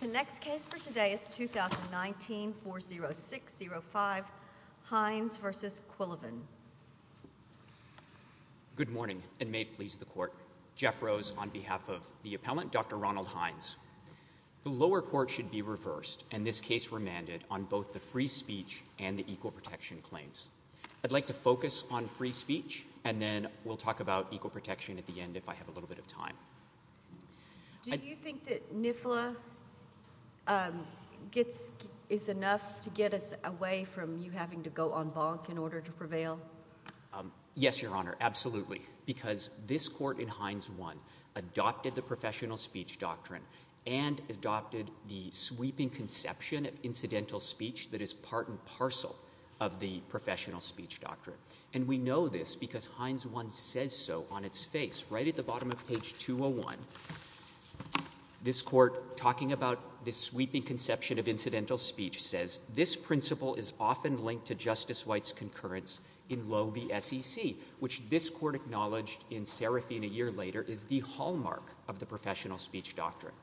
The next case for today is 2019-40605, Hines v. Quillivan. Good morning and may it please the Court. Jeff Rose on behalf of the appellant, Dr. Ronald Hines. The lower court should be reversed and this case remanded on both the free speech and the equal protection claims. I'd like to focus on free speech and then we'll talk about equal protection at the end if I have a little bit of time. Do you think that NIFLA is enough to get us away from you having to go on bonk in order to prevail? Yes, Your Honor, absolutely, because this court in Hines 1 adopted the professional speech doctrine and adopted the sweeping conception of incidental speech that is part and parcel of the professional speech doctrine. And we know this because Hines 1 says so on its face right at the bottom of page 201. This court talking about this sweeping conception of incidental speech says, this principle is often linked to Justice White's concurrence in Loewe v. SEC, which this court acknowledged in Serafine a year later is the hallmark of the professional speech doctrine.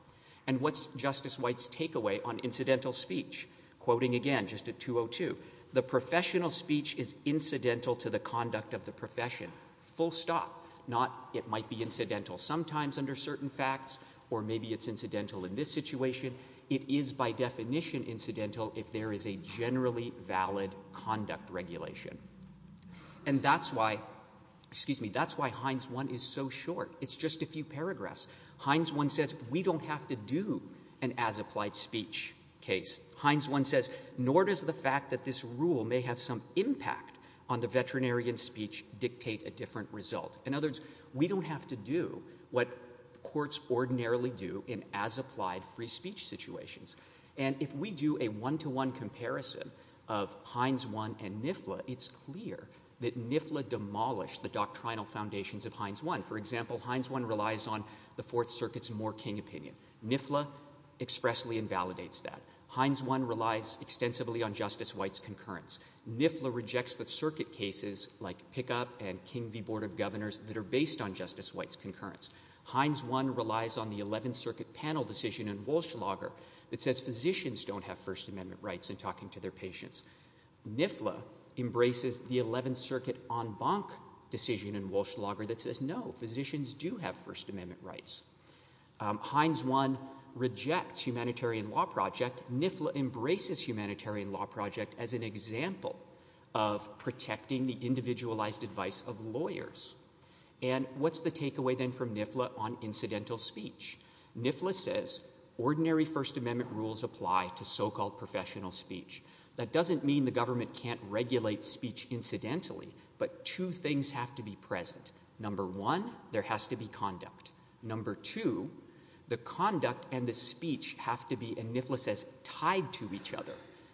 And what's Justice White's takeaway on incidental speech? Quoting again, just at 202, the professional speech is incidental to the conduct of the profession, full stop. Not it might be incidental sometimes under certain facts or maybe it's incidental in this situation. It is by definition incidental if there is a generally valid conduct regulation. And that's why, excuse me, that's why Hines 1 is so short. It's just a few paragraphs. Hines 1 says we don't have to do an as-applied speech case. Hines 1 says, nor does the fact that this rule may have some impact on the veterinarian speech dictate a different result. In other words, we don't have to do what courts ordinarily do in as-applied free speech situations. And if we do a one-to-one comparison of Hines 1 and NIFLA, it's clear that NIFLA demolished the doctrinal foundations of Hines 1. For example, Hines 1 relies on the Fourth Circuit's Moore-King opinion. NIFLA expressly invalidates that. Hines 1 relies extensively on Justice White's concurrence. NIFLA rejects the circuit cases like Pickup and King v. Board of Governors that are based on Justice White's concurrence. Hines 1 relies on the Eleventh Circuit panel decision in Walschlager that says physicians don't have First Amendment rights in talking to their patients. NIFLA embraces the Eleventh Circuit en banc decision in Walschlager that says, no, physicians do have First Amendment rights. Hines 1 rejects humanitarian law project. NIFLA embraces humanitarian law project as an example of protecting the individualized advice of lawyers. And what's the takeaway then from NIFLA on incidental speech? NIFLA says, ordinary First Amendment rules apply to so-called professional speech. That doesn't mean the government can't regulate speech incidentally, but two things have to be present. Number one, there has to be conduct. Number two, the conduct and the speech have to be, and NIFLA says, tied to each other.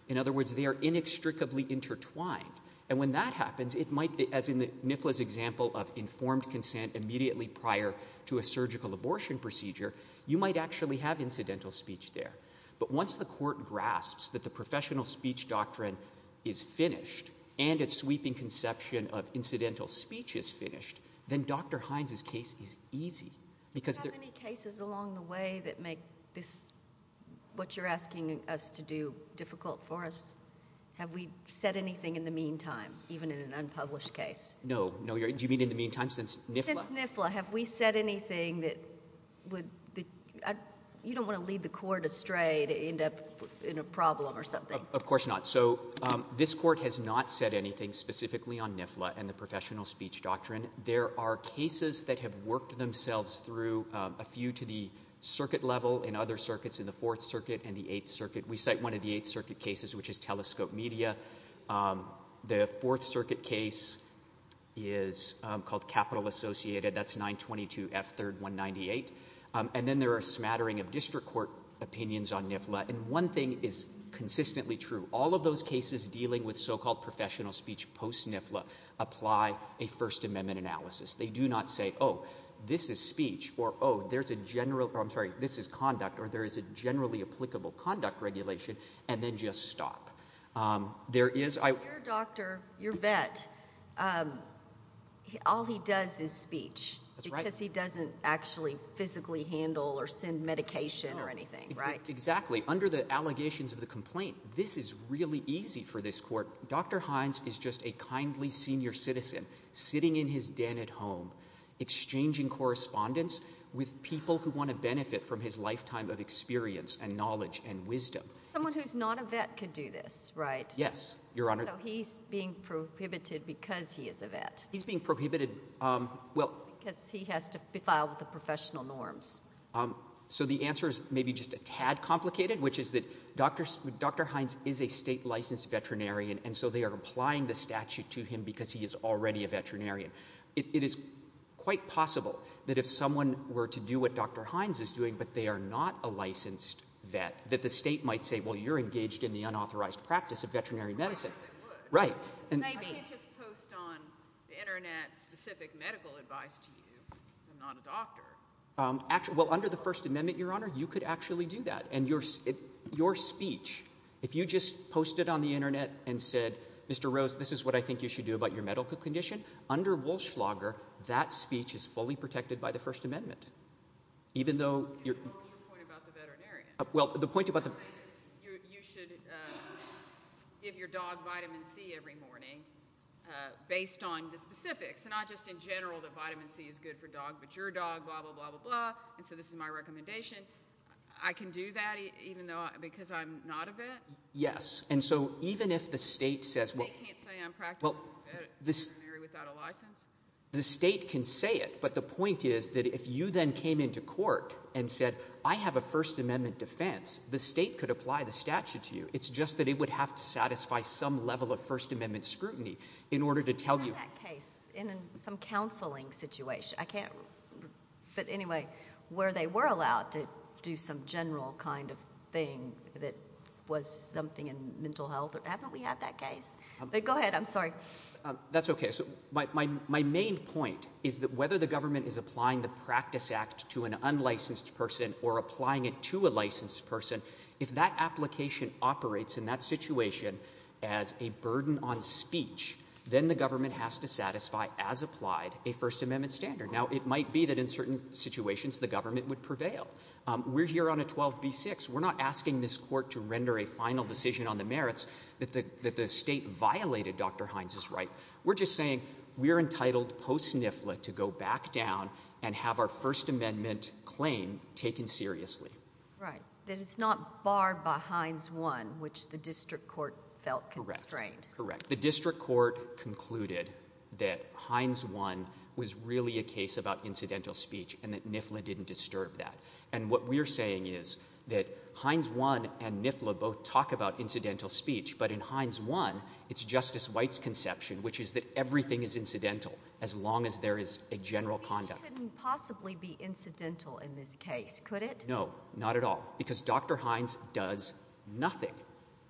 In other words, they are inextricably intertwined. And when that happens, it might be, as in NIFLA's example of informed consent immediately prior to a surgical abortion procedure, you might actually have incidental speech there. But once the court grasps that the professional speech doctrine is finished and its sweeping conception of incidental speech is finished, then Dr. Hines' case is easy. Do you have any cases along the way that make this, what you're asking us to do, difficult for us? Have we said anything in the meantime, even in an unpublished case? No, no. Do you mean in the meantime since NIFLA? Since NIFLA. Have we said anything that would, you don't want to lead the court astray to end up in a problem or something. Of course not. So this court has not said anything specifically on NIFLA and the professional speech doctrine. There are cases that have worked themselves through, a few to the circuit level and other circuits in the Fourth Circuit and the Eighth Circuit. We cite one of the Eighth Circuit cases, which is Telescope Media. The Fourth Circuit case is called Capital Associated. That's 922 F. 3rd 198. And then there are a smattering of district court opinions on NIFLA, and one thing is consistently true. All of those cases dealing with so-called professional speech post-NIFLA apply a First Amendment analysis. They do not say, oh, this is speech, or oh, there's a general, I'm sorry, this is conduct, or there is a generally applicable conduct regulation, and then just stop. There is... So your doctor, your vet, all he does is speech because he doesn't actually physically handle or send medication or anything, right? Exactly. Under the allegations of the complaint, this is really easy for this court. Dr. Hines is just a kindly senior citizen, sitting in his den at home, exchanging correspondence with people who want to benefit from his lifetime of experience and knowledge and wisdom. Someone who's not a vet could do this, right? Yes, Your Honor. So he's being prohibited because he is a vet? He's being prohibited, well... Because he has to be filed with the professional norms. So the answer is maybe just a tad complicated, which is that Dr. Hines is a state-licensed veterinarian, and so they are applying the statute to him because he is already a veterinarian. It is quite possible that if someone were to do what Dr. Hines is doing, but they are not a licensed vet, that the state might say, well, you're engaged in the unauthorized practice of veterinary medicine. Right, they would. Right. And they can't just post on the internet specific medical advice to you, I'm not a doctor. Well, under the First Amendment, Your Honor, you could actually do that. And your speech, if you just posted on the internet and said, Mr. Rose, this is what I think you should do about your medical condition, under Walschlager, that speech is fully protected by the First Amendment. Even though... And what was your point about the veterinarian? Well, the point about the... You said you should give your dog vitamin C every morning based on the specifics, not just in general that vitamin C is good for dog, but your dog, blah, blah, blah, blah, blah. And so this is my recommendation. I can do that even though, because I'm not a vet? Yes. And so even if the state says... The state can't say I'm practically a vet, I'm a veterinarian without a license? The state can say it, but the point is that if you then came into court and said, I have a First Amendment defense, the state could apply the statute to you. It's just that it would have to satisfy some level of First Amendment scrutiny in order to tell you... It's in some counseling situation. I can't... But anyway, where they were allowed to do some general kind of thing that was something in mental health. Haven't we had that case? But go ahead. I'm sorry. That's okay. So my main point is that whether the government is applying the Practice Act to an unlicensed person or applying it to a licensed person, if that application operates in that situation as a burden on speech, then the government has to satisfy, as applied, a First Amendment standard. Now, it might be that in certain situations the government would prevail. We're here on a 12B6. We're not asking this court to render a final decision on the merits that the state violated Dr. Hines' right. We're just saying we're entitled post-SNFLA to go back down and have our First Amendment claim taken seriously. Right. So you're saying that it's not barred by Hines 1, which the district court felt constrained. Correct. Correct. The district court concluded that Hines 1 was really a case about incidental speech and that NFLA didn't disturb that. And what we're saying is that Hines 1 and NFLA both talk about incidental speech, but in Hines 1, it's Justice White's conception, which is that everything is incidental as long as there is a general conduct. Speech couldn't possibly be incidental in this case, could it? No. No. Not at all. Because Dr. Hines does nothing.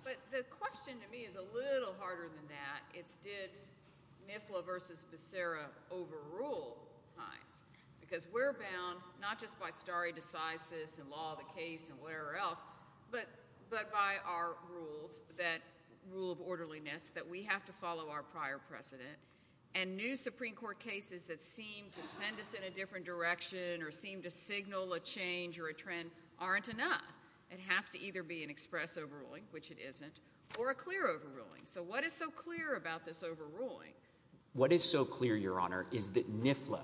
But the question to me is a little harder than that. It's did NFLA versus Becerra overrule Hines? Because we're bound not just by stare decisis and law of the case and whatever else, but by our rules, that rule of orderliness, that we have to follow our prior precedent. And new Supreme Court cases that seem to send us in a different direction or seem to signal a change or a trend aren't enough. It has to either be an express overruling, which it isn't, or a clear overruling. So what is so clear about this overruling? What is so clear, Your Honor, is that NFLA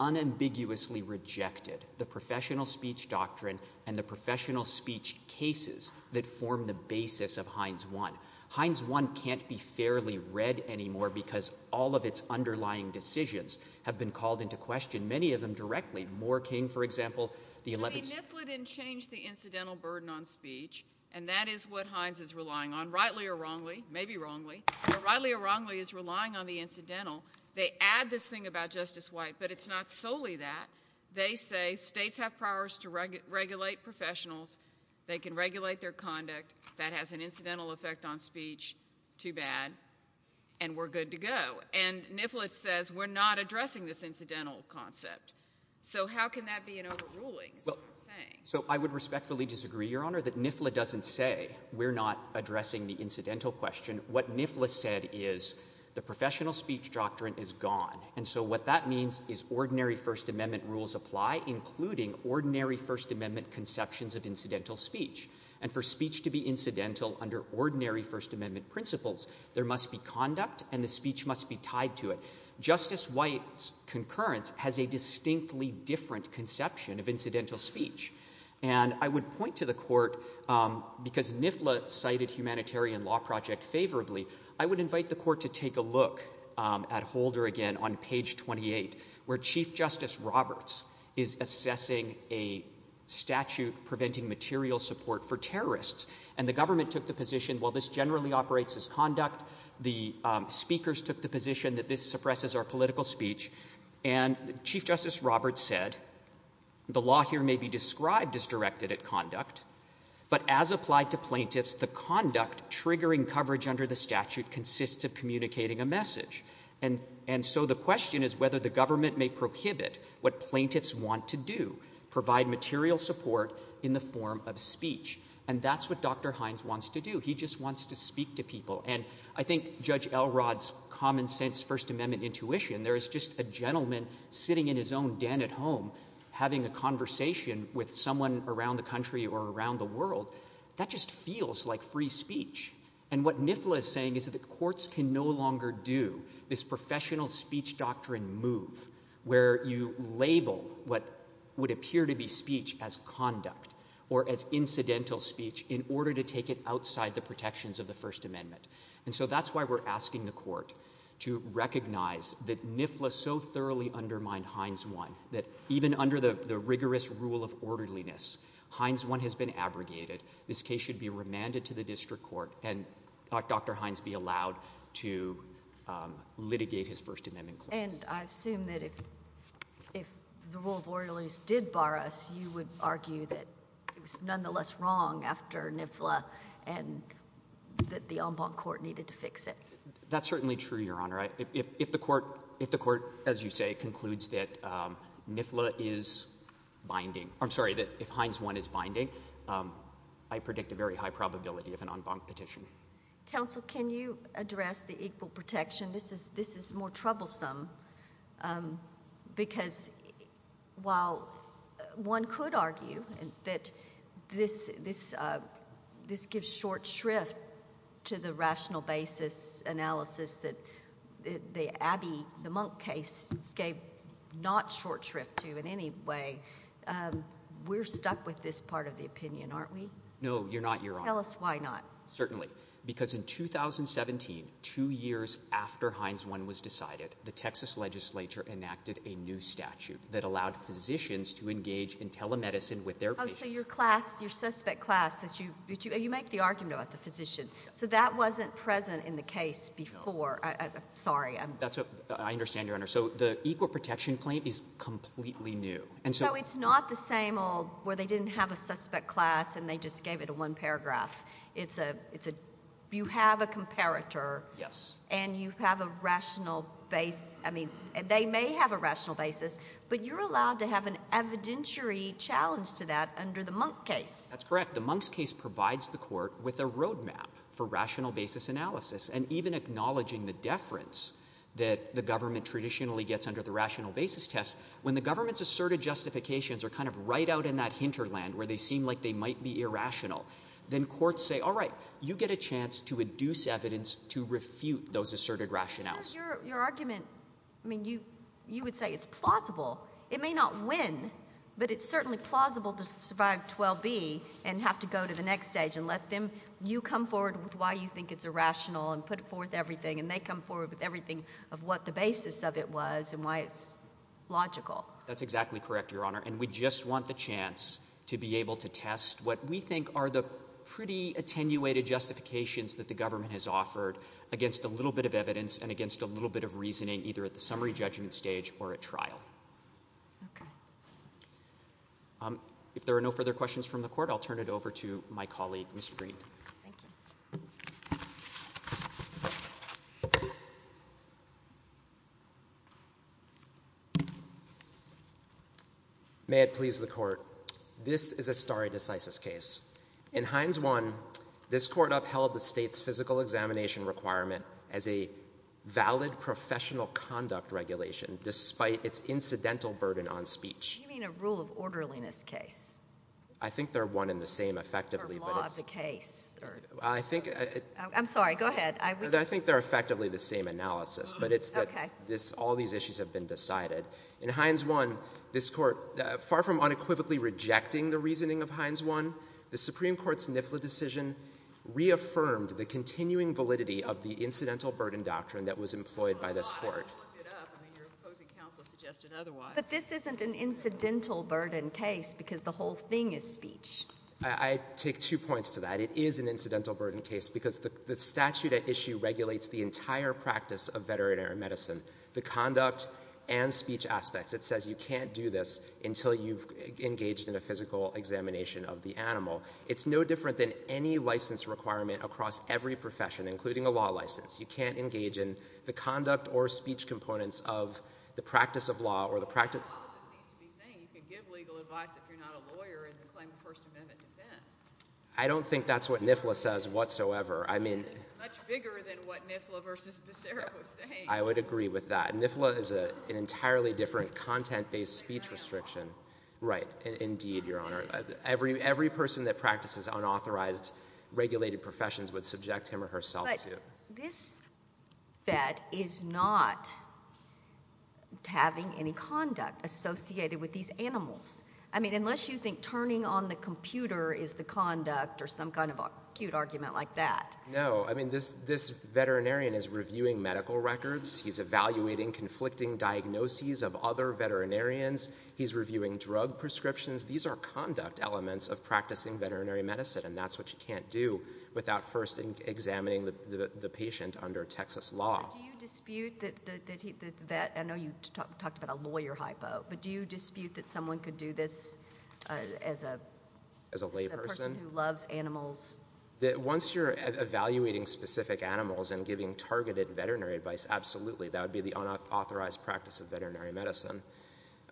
unambiguously rejected the professional speech doctrine and the professional speech cases that form the basis of Hines 1. Hines 1 can't be fairly read anymore because all of its underlying decisions have been called into question, many of them directly. Moore King, for example, the 11th— I mean, NFLA didn't change the incidental burden on speech, and that is what Hines is relying on, rightly or wrongly, maybe wrongly, but rightly or wrongly is relying on the incidental. They add this thing about Justice White, but it's not solely that. They say states have powers to regulate professionals, they can regulate their conduct, that has an incidental effect on speech, too bad, and we're good to go. And NFLA says we're not addressing this incidental concept. So how can that be an overruling, is what they're saying? So I would respectfully disagree, Your Honor, that NFLA doesn't say we're not addressing the incidental question. What NFLA said is the professional speech doctrine is gone, and so what that means is ordinary First Amendment rules apply, including ordinary First Amendment conceptions of incidental speech, and for speech to be incidental under ordinary First Amendment principles, there must be conduct and the speech must be tied to it. Justice White's concurrence has a distinctly different conception of incidental speech, and I would point to the Court, because NFLA cited Humanitarian Law Project favorably, I would invite the Court to take a look at Holder again on page 28, where Chief Justice Roberts is assessing a statute preventing material support for terrorists, and the government took the position, while this generally operates as conduct, the speakers took the position that this suppresses our political speech, and Chief Justice Roberts said, the law here may be described as directed at conduct, but as applied to plaintiffs, the conduct triggering coverage under the statute consists of communicating a message, and so the question is whether the government may prohibit what plaintiffs want to do, provide material support in the form of speech, and that's what Dr. Hines wants to do, he just wants to speak to people, and I think Judge Elrod's common sense First Amendment intuition, there is just a gentleman sitting in his own den at home, having a conversation with someone around the country or around the world, that just feels like free speech, and what NFLA is saying is that the courts can no longer do this professional speech doctrine move, where you label what would appear to be speech as conduct, or as incidental speech, in order to take it outside the protections of the First Amendment, and so that's why we're asking the court to recognize that NFLA so thoroughly undermined Hines 1, that even under the rigorous rule of orderliness, Hines 1 has been abrogated, this case should be remanded to the district court, and Dr. Hines be allowed to litigate his First Amendment clause. And I assume that if the rule of orderliness did bar us, you would argue that it was nonetheless wrong after NFLA, and that the en banc court needed to fix it. That's certainly true, Your Honor. If the court, as you say, concludes that NFLA is binding, I'm sorry, that if Hines 1 is binding, I predict a very high probability of an en banc petition. Counsel, can you address the equal protection? This is more troublesome, because while one could argue that this gives short shrift to the rational basis analysis that the Abbey, the Monk case, gave not short shrift to in any way, we're stuck with this part of the opinion, aren't we? No, you're not, Your Honor. Tell us why not. Certainly. Because in 2017, two years after Hines 1 was decided, the Texas legislature enacted a new statute that allowed physicians to engage in telemedicine with their patients. Oh, so your class, your suspect class, you make the argument about the physician. So that wasn't present in the case before. Sorry. I understand, Your Honor. So the equal protection claim is completely new. So it's not the same old where they didn't have a suspect class, and they just gave it a one paragraph. You have a comparator, and you have a rational base. I mean, they may have a rational basis, but you're allowed to have an evidentiary challenge to that under the Monk case. That's correct. The Monk's case provides the court with a roadmap for rational basis analysis. And even acknowledging the deference that the government traditionally gets under the rational basis test, when the government's asserted justifications are kind of right out in that hinterland where they seem like they might be irrational, then courts say, all right, you get a chance to induce evidence to refute those asserted rationales. Because your argument, I mean, you would say it's plausible. It may not win, but it's certainly plausible to survive 12B and have to go to the next stage and let them, you come forward with why you think it's irrational and put forth everything, and they come forward with everything of what the basis of it was and why it's logical. That's exactly correct, Your Honor. And we just want the chance to be able to test what we think are the pretty attenuated justifications that the government has offered against a little bit of reasoning, either at the summary judgment stage or at trial. Okay. If there are no further questions from the court, I'll turn it over to my colleague, Mr. Green. Thank you. May it please the court. This is a stare decisis case. In Hines 1, this court upheld the state's physical examination requirement as a valid professional conduct regulation, despite its incidental burden on speech. You mean a rule of orderliness case? I think they're one and the same, effectively, but it's... Or law of the case. I think it... I'm sorry. Go ahead. I think they're effectively the same analysis, but it's that all these issues have been decided. In Hines 1, this court, far from unequivocally rejecting the reasoning of Hines 1, the Supreme Court has rejected the continuing validity of the incidental burden doctrine that was employed by this court. Well, I just looked it up. I mean, your opposing counsel suggested otherwise. But this isn't an incidental burden case, because the whole thing is speech. I take two points to that. It is an incidental burden case, because the statute at issue regulates the entire practice of veterinary medicine, the conduct and speech aspects. It says you can't do this until you've engaged in a physical examination of the animal. It's no different than any license requirement across every profession, including a law license. You can't engage in the conduct or speech components of the practice of law or the practice... Well, the law doesn't seem to be saying you can give legal advice if you're not a lawyer and claim First Amendment defense. I don't think that's what NIFLA says whatsoever. I mean... It's much bigger than what NIFLA versus Becerra was saying. I would agree with that. NIFLA is an entirely different content-based speech restriction. It's not at all. Right. Indeed, Your Honor. Every person that practices unauthorized, regulated professions would subject him or herself to it. But this vet is not having any conduct associated with these animals. I mean, unless you think turning on the computer is the conduct or some kind of acute argument like that. No. I mean, this veterinarian is reviewing medical records. He's evaluating conflicting diagnoses of other veterinarians. He's reviewing drug prescriptions. These are conduct elements of practicing veterinary medicine, and that's what you can't do without first examining the patient under Texas law. Do you dispute that the vet... I know you talked about a lawyer hypo, but do you dispute that someone could do this as a person who loves animals? Once you're evaluating specific animals and giving targeted veterinary advice, absolutely. That would be the unauthorized practice of veterinary medicine.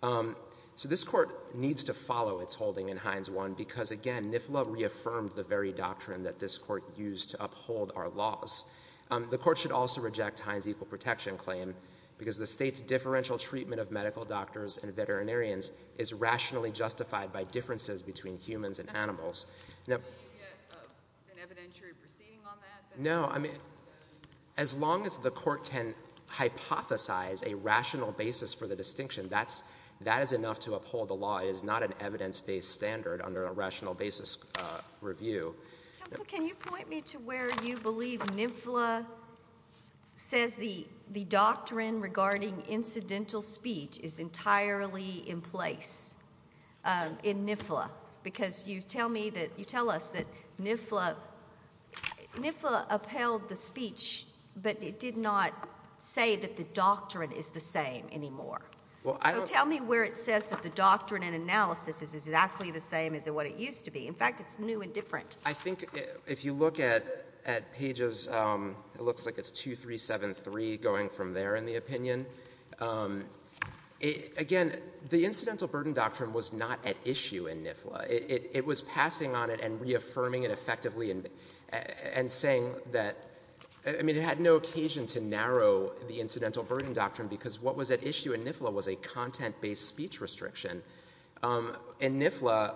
So this Court needs to follow its holding in Hines 1 because, again, NIFLA reaffirmed the very doctrine that this Court used to uphold our laws. The Court should also reject Hines' equal protection claim because the state's differential treatment of medical doctors and veterinarians is rationally justified by differences between humans and animals. Do you get an evidentiary proceeding on that? No. I mean, as long as the Court can hypothesize a rational basis for the distinction, that is enough to uphold the law. It is not an evidence-based standard under a rational basis review. Counsel, can you point me to where you believe NIFLA says the doctrine regarding incidental speech is entirely in place in NIFLA? Because you tell us that NIFLA upheld the speech, but it did not say that the doctrine is the same anymore. So tell me where it says that the doctrine and analysis is exactly the same as what it used to be. In fact, it's new and different. I think if you look at pages—it looks like it's 2, 3, 7, 3 going from there in the opinion—again, the incidental burden doctrine was not at issue in NIFLA. It was passing on it and reaffirming it effectively and saying that—I mean, it had no occasion to narrow the incidental burden doctrine because what was at issue in NIFLA was a content-based speech restriction. In NIFLA,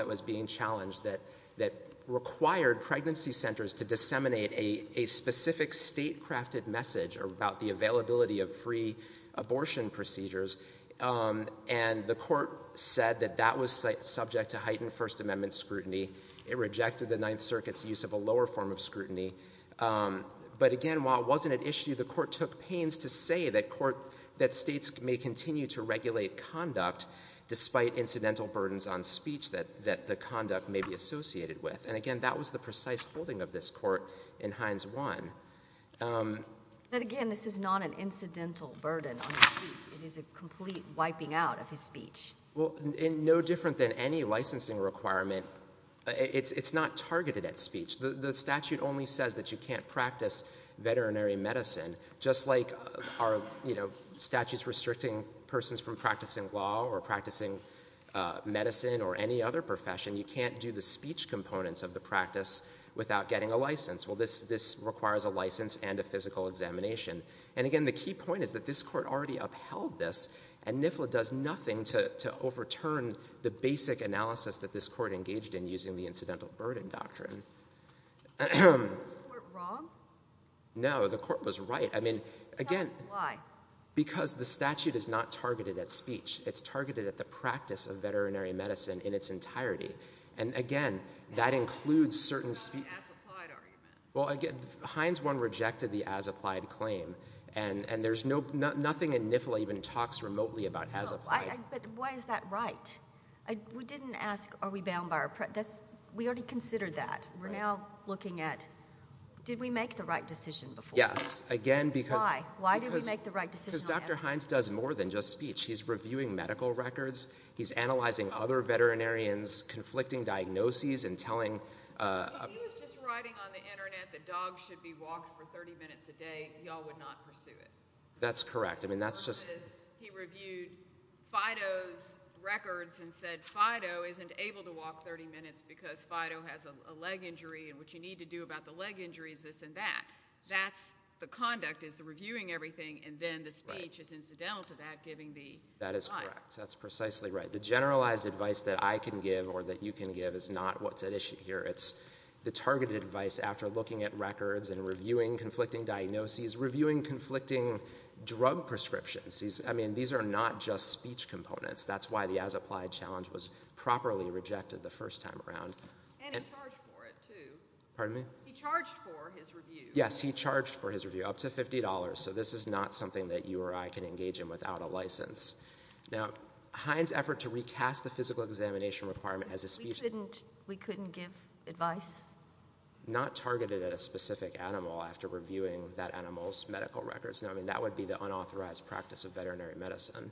it was being challenged that required pregnancy centers to disseminate a specific state-crafted message about the availability of free abortion procedures. And the court said that that was subject to heightened First Amendment scrutiny. It rejected the Ninth Circuit's use of a lower form of scrutiny. But again, while it wasn't at issue, the court took pains to say that states may continue to regulate conduct despite incidental burdens on speech that the conduct may be associated with. And again, that was the precise holding of this court in Hines 1. But again, this is not an incidental burden on speech. It is a complete wiping out of his speech. Well, no different than any licensing requirement, it's not targeted at speech. The statute only says that you can't practice veterinary medicine, just like are, you know, statutes restricting persons from practicing law or practicing medicine or any other profession. You can't do the speech components of the practice without getting a license. Well, this requires a license and a physical examination. And again, the key point is that this court already upheld this, and NIFLA does nothing to overturn the basic analysis that this court engaged in using the incidental burden doctrine. Is the court wrong? No, the court was right. I mean, again— Tell us why. Because the statute is not targeted at speech. It's targeted at the practice of veterinary medicine in its entirety. And again, that includes certain— What about the as-applied argument? Well, again, Hines 1 rejected the as-applied claim, and there's no—nothing in NIFLA even talks remotely about as-applied. No, but why is that right? We didn't ask, are we bound by our—we already considered that. We're now looking at, did we make the right decision before? Yes, again, because— Because Dr. Hines does more than just speech. He's reviewing medical records. He's analyzing other veterinarians, conflicting diagnoses, and telling— He was just writing on the internet that dogs should be walked for 30 minutes a day. Y'all would not pursue it. That's correct. I mean, that's just— He reviewed FIDO's records and said FIDO isn't able to walk 30 minutes because FIDO has a leg injury, and what you need to do about the leg injury is this and that. That's the conduct, is the reviewing everything, and then the speech is incidental to that, giving the advice. That is correct. That's precisely right. The generalized advice that I can give or that you can give is not what's at issue here. It's the targeted advice after looking at records and reviewing conflicting diagnoses, reviewing conflicting drug prescriptions. I mean, these are not just speech components. That's why the as-applied challenge was properly rejected the first time around. And he charged for it, too. Pardon me? He charged for his review. Yes, he charged for his review, up to $50, so this is not something that you or I can engage in without a license. Now, Hines' effort to recast the physical examination requirement as a speech— We couldn't give advice? Not targeted at a specific animal after reviewing that animal's medical records. No, I mean, that would be the unauthorized practice of veterinary medicine.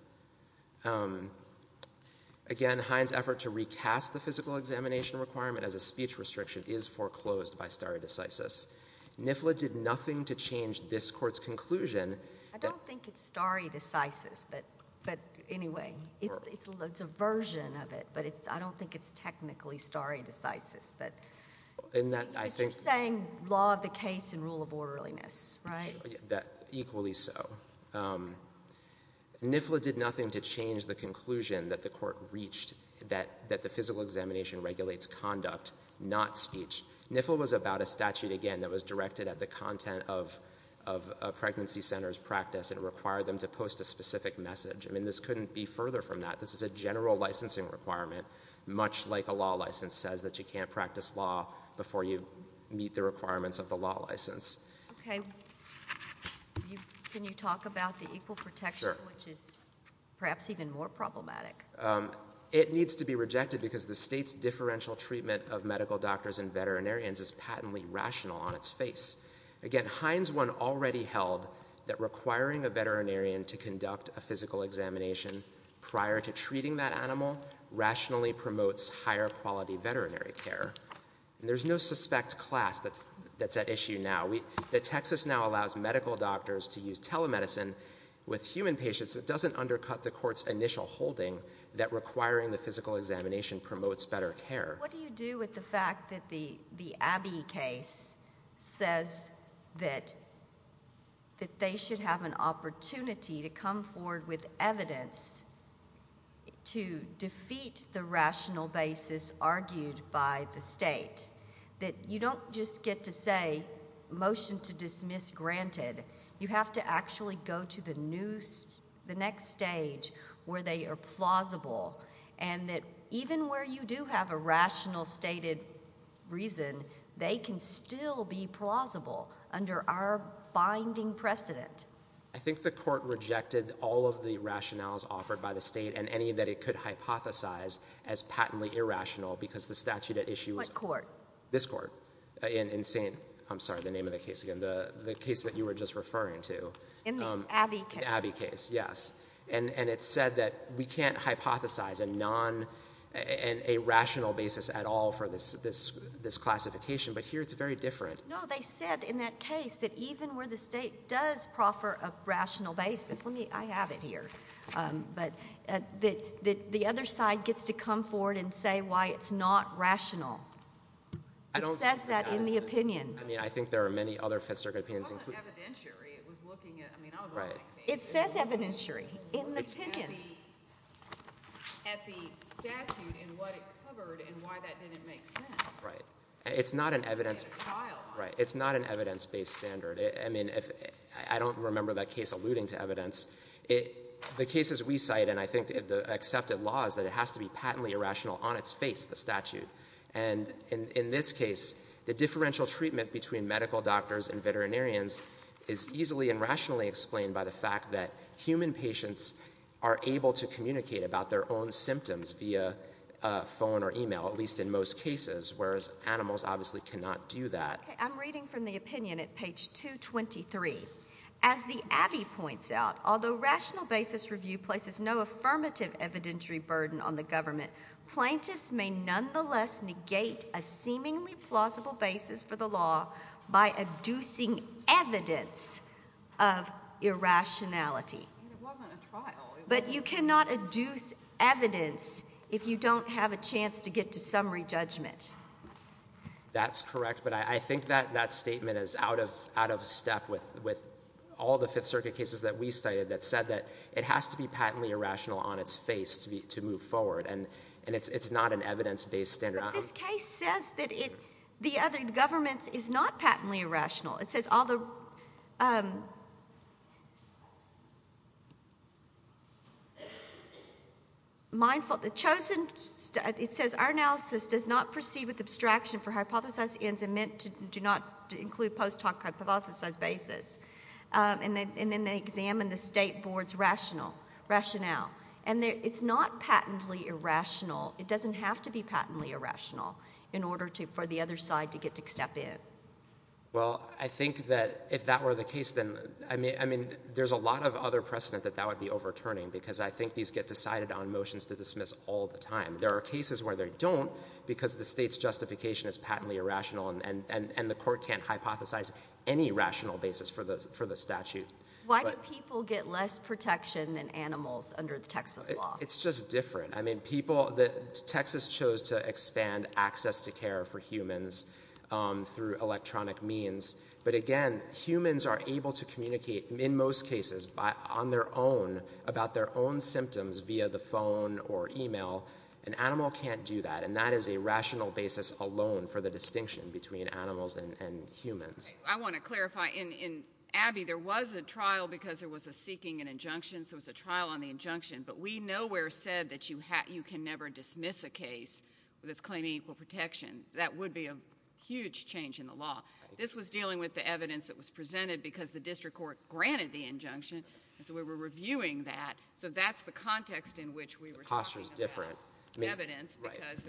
Again, Hines' effort to recast the physical examination requirement as a speech restriction is foreclosed by NIFLA. NIFLA did nothing to change this Court's conclusion— I don't think it's stare decisis, but anyway, it's a version of it, but I don't think it's technically stare decisis. But you're saying law of the case and rule of orderliness, right? Equally so. NIFLA did nothing to change the conclusion that the Court reached that the physical examination regulates conduct, not speech. NIFLA was about a statute, again, that was directed at the content of a pregnancy center's practice and required them to post a specific message. I mean, this couldn't be further from that. This is a general licensing requirement, much like a law license says, that you can't practice law before you meet the requirements of the law license. Okay. Can you talk about the equal protection, which is perhaps even more problematic? It needs to be rejected because the state's differential treatment of medical doctors and veterinarians is patently rational on its face. Again, Hines 1 already held that requiring a veterinarian to conduct a physical examination prior to treating that animal rationally promotes higher quality veterinary care. There's no suspect class that's at issue now. Texas now allows medical doctors to use telemedicine with human patients. It doesn't undercut the Court's initial holding that requiring the physical examination promotes better care. What do you do with the fact that the Abbey case says that they should have an opportunity to come forward with evidence to defeat the rational basis argued by the state? That you don't just get to say, motion to dismiss granted. You have to actually go to the next stage where they are plausible, and that even where you do have a rational stated reason, they can still be plausible under our binding precedent. I think the Court rejected all of the rationales offered by the state and any that it could hypothesize as patently irrational because the statute at issue was... What court? This court in St.... I'm sorry, the name of the case again. The case that you were just referring to. In the Abbey case. In the Abbey case, yes. It said that we can't hypothesize a rational basis at all for this classification, but here it's very different. No, they said in that case that even where the state does proffer a rational basis... I have it here. The other side gets to come forward and say why it's not rational. It says that in the opinion. I think there are many other Fifth Circuit opinions. It wasn't evidentiary. It was looking at... I mean, I was... It says evidentiary. In the opinion. At the statute and what it covered and why that didn't make sense. It's not an evidence-based standard. I mean, I don't remember that case alluding to evidence. The cases we cite and I think the accepted law is that it has to be patently irrational on its face, the statute. And in this case, the differential treatment between medical doctors and veterinarians is easily and rationally explained by the fact that human patients are able to communicate about their own symptoms via phone or email, at least in most cases, whereas animals obviously cannot do that. I'm reading from the opinion at page 223. As the Abbey points out, although rational basis review places no affirmative evidentiary burden on the government, plaintiffs may nonetheless negate a seemingly plausible basis for the law by adducing evidence of irrationality. But you cannot adduce evidence if you don't have a chance to get to summary judgment. That's correct, but I think that statement is out of step with all the Fifth Circuit cases that we cited that said that it has to be patently irrational on its face to move forward. And it's not an evidence-based standard. But this case says that the government is not patently irrational. It says all the chosen, it says our analysis does not proceed with abstraction for hypothesized ends and meant to do not include post-hoc hypothesized basis. And then they examine the state board's rationale. And it's not patently irrational. It doesn't have to be patently irrational in order for the other side to get to step in. Well, I think that if that were the case, then I mean, there's a lot of other precedent that that would be overturning, because I think these get decided on motions to dismiss all the time. There are cases where they don't because the state's justification is patently irrational and the court can't hypothesize any rational basis for the statute. Why do people get less protection than animals under the Texas law? It's just different. I mean, people, Texas chose to expand access to care for humans through electronic means. But again, humans are able to communicate in most cases on their own about their own symptoms via the phone or email. An animal can't do that. And that is a rational basis alone for the distinction between animals and humans. I want to clarify. In Abby, there was a trial because there was a seeking and injunction. There was a trial on the injunction. But we nowhere said that you can never dismiss a case that's claiming equal protection. That would be a huge change in the law. This was dealing with the evidence that was presented because the district court granted the injunction. And so we were reviewing that. So that's the context in which we were talking about the evidence because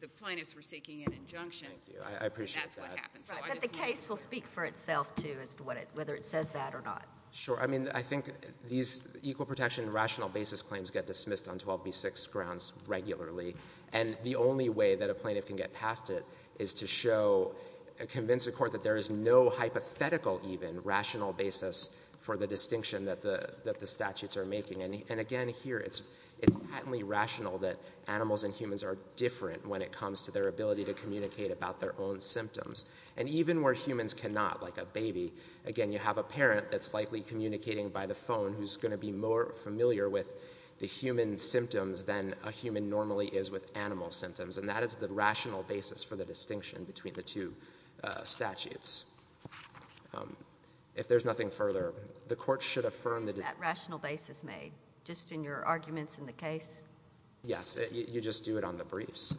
the plaintiffs were seeking an injunction. Thank you. I appreciate that. And that's what happened. But the case will speak for itself, too, as to whether it says that or not. Sure. I mean, I think these equal protection and rational basis claims get dismissed on 12b6 grounds regularly. And the only way that a plaintiff can get past it is to show and convince a court that there is no hypothetical even rational basis for the distinction that the statutes are making. And again, here, it's patently rational that animals and humans are different when it comes to their ability to communicate about their own symptoms. And even where humans cannot, like a baby, again, you have a parent that's likely communicating by the phone who's going to be more familiar with the human symptoms than a human normally is with animal symptoms. And that is the rational basis for the distinction between the two statutes. If there's nothing further, the court should affirm that the— Is that rational basis made just in your arguments in the case? Yes. You just do it on the briefs.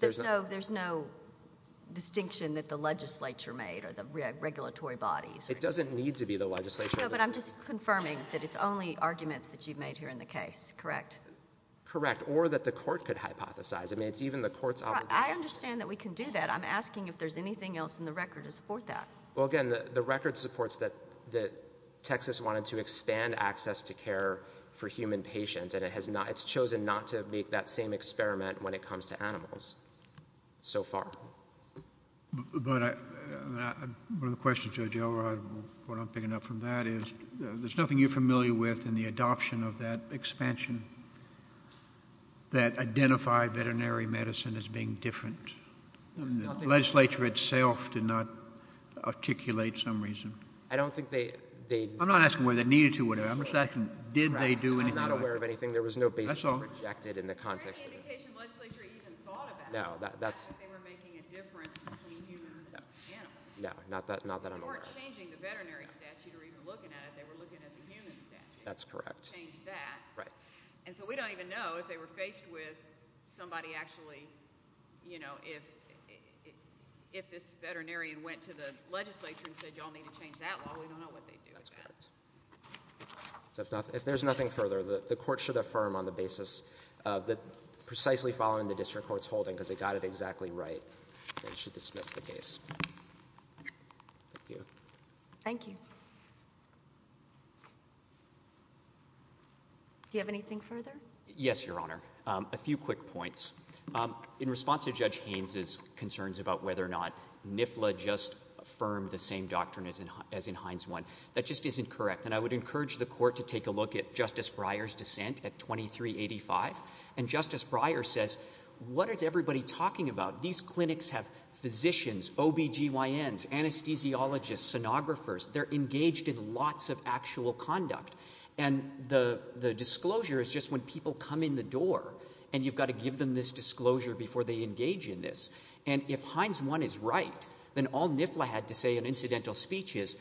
There's no distinction that the legislature made or the regulatory bodies— It doesn't need to be the legislature. No, but I'm just confirming that it's only arguments that you've made here in the case, correct? Correct. Or that the court could hypothesize. I mean, it's even the court's obligation— I understand that we can do that. I'm asking if there's anything else in the record to support that. Well, again, the record supports that Texas wanted to expand access to care for human patients, and it's chosen not to make that same experiment when it comes to animals so far. But one of the questions, Judge Elrod, what I'm picking up from that is there's nothing you're familiar with in the adoption of that expansion that identified veterinary medicine as being different. The legislature itself did not articulate some reason. I don't think they— I'm not asking whether they needed to or whatever. I'm just asking, did they do anything I'm not aware of anything. There was no basis rejected in the context of it. There isn't any indication the legislature even thought about it. No, that's— It's not like they were making a difference between humans and animals. No, not that I'm aware of. They weren't changing the veterinary statute or even looking at it. They were looking at the human statute. That's correct. They changed that. And so we don't even know if they were faced with somebody actually, you know, if this veterinarian went to the legislature and said, y'all need to change that law. We don't know what they'd do with that. That's correct. So if there's nothing further, the court should affirm on the basis that precisely following the district court's holding, because they got it exactly right, they should dismiss the case. Thank you. Thank you. Do you have anything further? Yes, Your Honor. A few quick points. In response to Judge Haynes' concerns about whether or not NIFLA just affirmed the same doctrine as in Hines 1, that just isn't correct. And I would encourage the court to take a look at Justice Breyer's dissent at 2385. And Justice Breyer says, what is everybody talking about? These clinics have physicians, OBGYNs, anesthesiologists, sonographers. They're engaged in lots of actual conduct. And the disclosure is just when people come in the door and you've got to give them this disclosure before they engage in this. And if Hines 1 is right, then all NIFLA had to say in incidental speech is,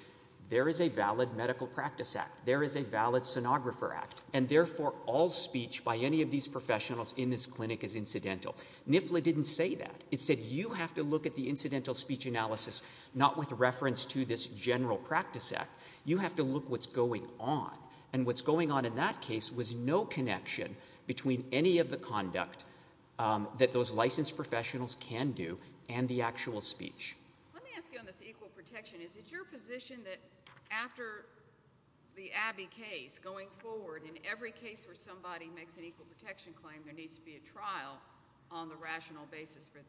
there is a valid medical practice act. There is a valid sonographer act. And therefore, all speech by any of these professionals in this clinic is incidental. NIFLA didn't say that. It said, you have to look at the incidental speech analysis not with reference to this general practice act. You have to look what's going on. And what's going on in that case was no connection between any of the conduct that those licensed professionals can do and the actual speech. Let me ask you on this equal protection. Is it your position that after the Abbey case going forward, in every case where somebody makes an equal protection claim, there needs to be a trial on the rational basis for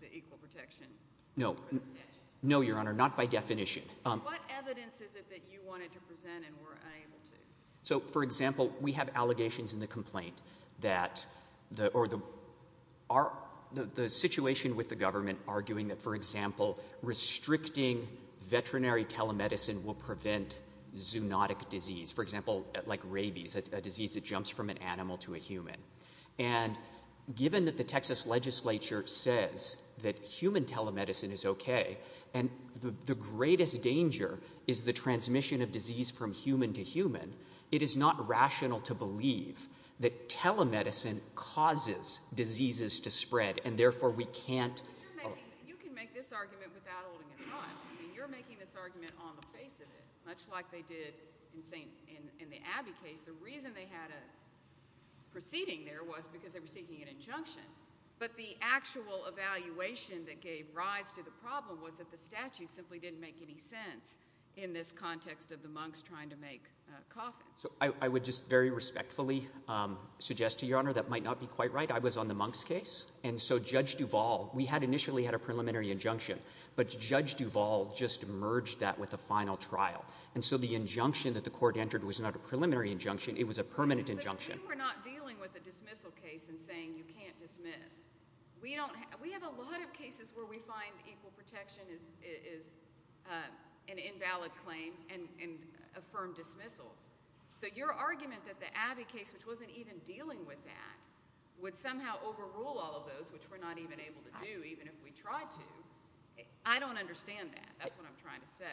the equal protection? No. No, Your Honor. Not by definition. What evidence is it that you wanted to present and were unable to? So, for example, we have allegations in the complaint that the situation with the government arguing that, for example, restricting veterinary telemedicine will prevent zoonotic disease. For example, like rabies, a disease that jumps from an animal to a human. And given that the Texas legislature says that human telemedicine is okay, and the greatest danger is the transmission of disease from human to human, it is not rational to believe that telemedicine causes diseases to spread, and therefore we can't... You can make this argument without holding it in line. I mean, you're making this argument on the face of it, much like they did in the Abbey case. The reason they had a proceeding there was because they were seeking an injunction. But the actual evaluation that gave rise to the problem was that the statute simply didn't make any sense in this context of the monks trying to make coffins. So I would just very respectfully suggest to Your Honor that might not be quite right. I was on the monks' case, and so Judge Duval... We had initially had a preliminary injunction, but Judge Duval just merged that with a final trial. And so the injunction that the court entered was not a preliminary injunction. It was a permanent injunction. But we were not dealing with a dismissal case and saying you can't dismiss. We have a lot of cases where we find equal protection is an invalid claim and affirm dismissals. So your argument that the Abbey case, which wasn't even dealing with that, would somehow overrule all of those, which we're not even able to do even if we tried to, I don't understand that. That's what I'm trying to say.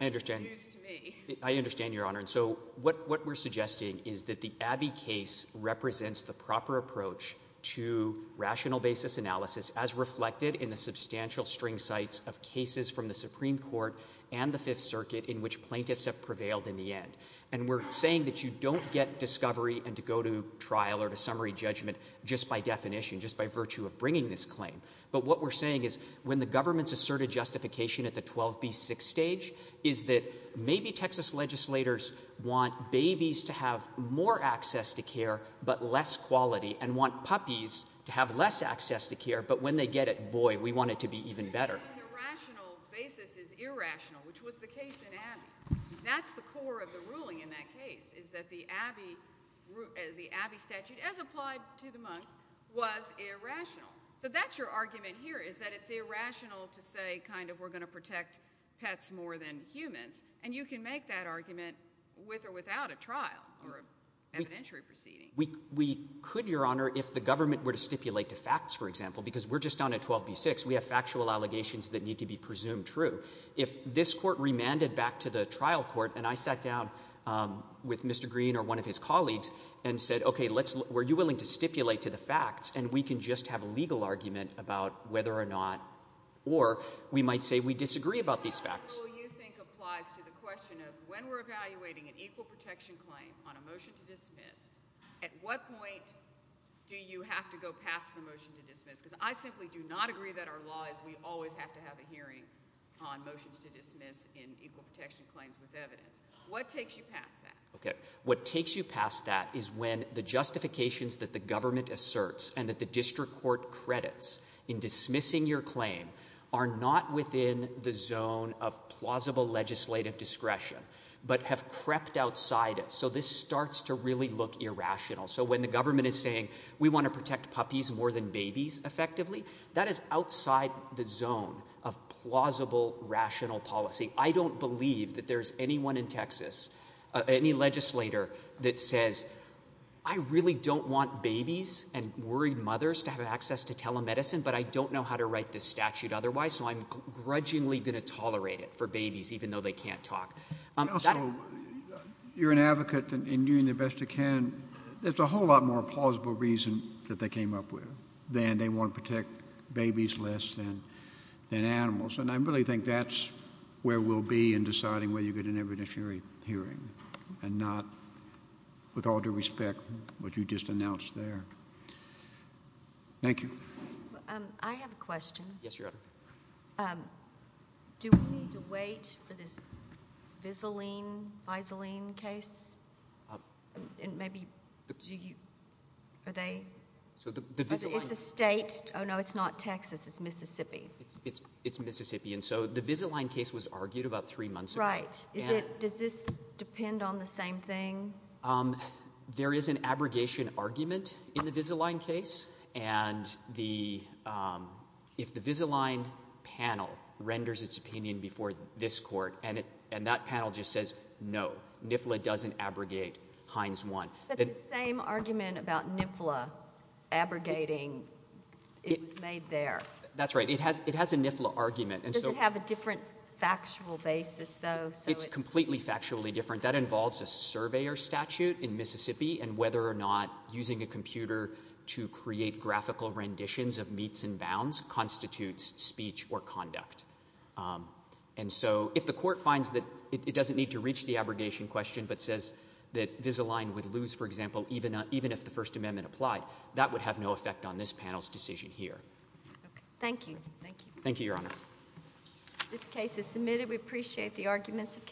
I understand. Excuse me. I understand, Your Honor. So what we're suggesting is that the Abbey case represents the proper approach to rational basis analysis as reflected in the substantial string sites of cases from the Supreme Court and the Fifth Circuit in which plaintiffs have prevailed in the end. And we're saying that you don't get discovery and to go to trial or to summary judgment just by definition, just by virtue of bringing this claim. But what we're saying is when the government's asserted justification at the 12B6 stage is that maybe Texas legislators want babies to have more access to care but less quality and want puppies to have less access to care, but when they get it, boy, we want it to be even better. The rational basis is irrational, which was the case in Abbey. That's the core of the ruling in that case is that the Abbey statute, as applied to the monks, was irrational. So that's your argument here is that it's irrational to say kind of we're going to protect pets more than humans, and you can make that argument with or without a trial or evidentiary proceeding. We could, Your Honor, if the government were to stipulate the facts, for example, because we're just on a 12B6. We have factual allegations that need to be presumed true. If this court remanded back to the trial court and I sat down with Mr. Green or one of his colleagues and said, okay, were you willing to stipulate to the facts, and we can just have a legal argument about whether or not or we might say we disagree about these facts. So what rule you think applies to the question of when we're evaluating an equal protection claim on a motion to dismiss, at what point do you have to go past the motion to dismiss? Because I simply do not agree that our law is we always have to have a hearing on motions to dismiss in equal protection claims with evidence. What takes you past that? Okay, what takes you past that is when the justifications that the government asserts and that the district court credits in dismissing your claim are not within the zone of plausible legislative discretion but have crept outside it. So this starts to really look irrational. So when the government is saying we want to protect puppies more than babies effectively, that is outside the zone of plausible rational policy. I don't believe that there's anyone in Texas, any legislator that says I really don't want babies and worried mothers to have access to telemedicine, but I don't know how to write this statute otherwise, so I'm grudgingly going to tolerate it for babies even though they can't talk. Also, you're an advocate in doing the best you can. There's a whole lot more plausible reason that they came up with than they want to protect babies less than animals. And I really think that's where we'll be in deciding whether you get an evidentiary hearing and not, with all due respect, what you just announced there. Thank you. I have a question. Yes, Your Honor. Do we need to wait for this Vizalene case? Maybe do you? Are they? It's a state. Oh, no, it's not Texas. It's Mississippi. It's Mississippi, and so the Vizalene case was argued about three months ago. Right. Does this depend on the same thing? There is an abrogation argument in the Vizalene case, and if the Vizalene panel renders its opinion before this court and that panel just says no, NIFLA doesn't abrogate Hines 1. But the same argument about NIFLA abrogating, it was made there. That's right. It has a NIFLA argument. Does it have a different factual basis, though? It's completely factually different. That involves a surveyor statute in Mississippi, and whether or not using a computer to create graphical renditions of meets and bounds constitutes speech or conduct. And so if the court finds that it doesn't need to reach the abrogation question but says that Vizalene would lose, for example, even if the First Amendment applied, that would have no effect on this panel's decision here. Thank you. Thank you, Your Honor. This case is submitted. We appreciate the arguments of counsel.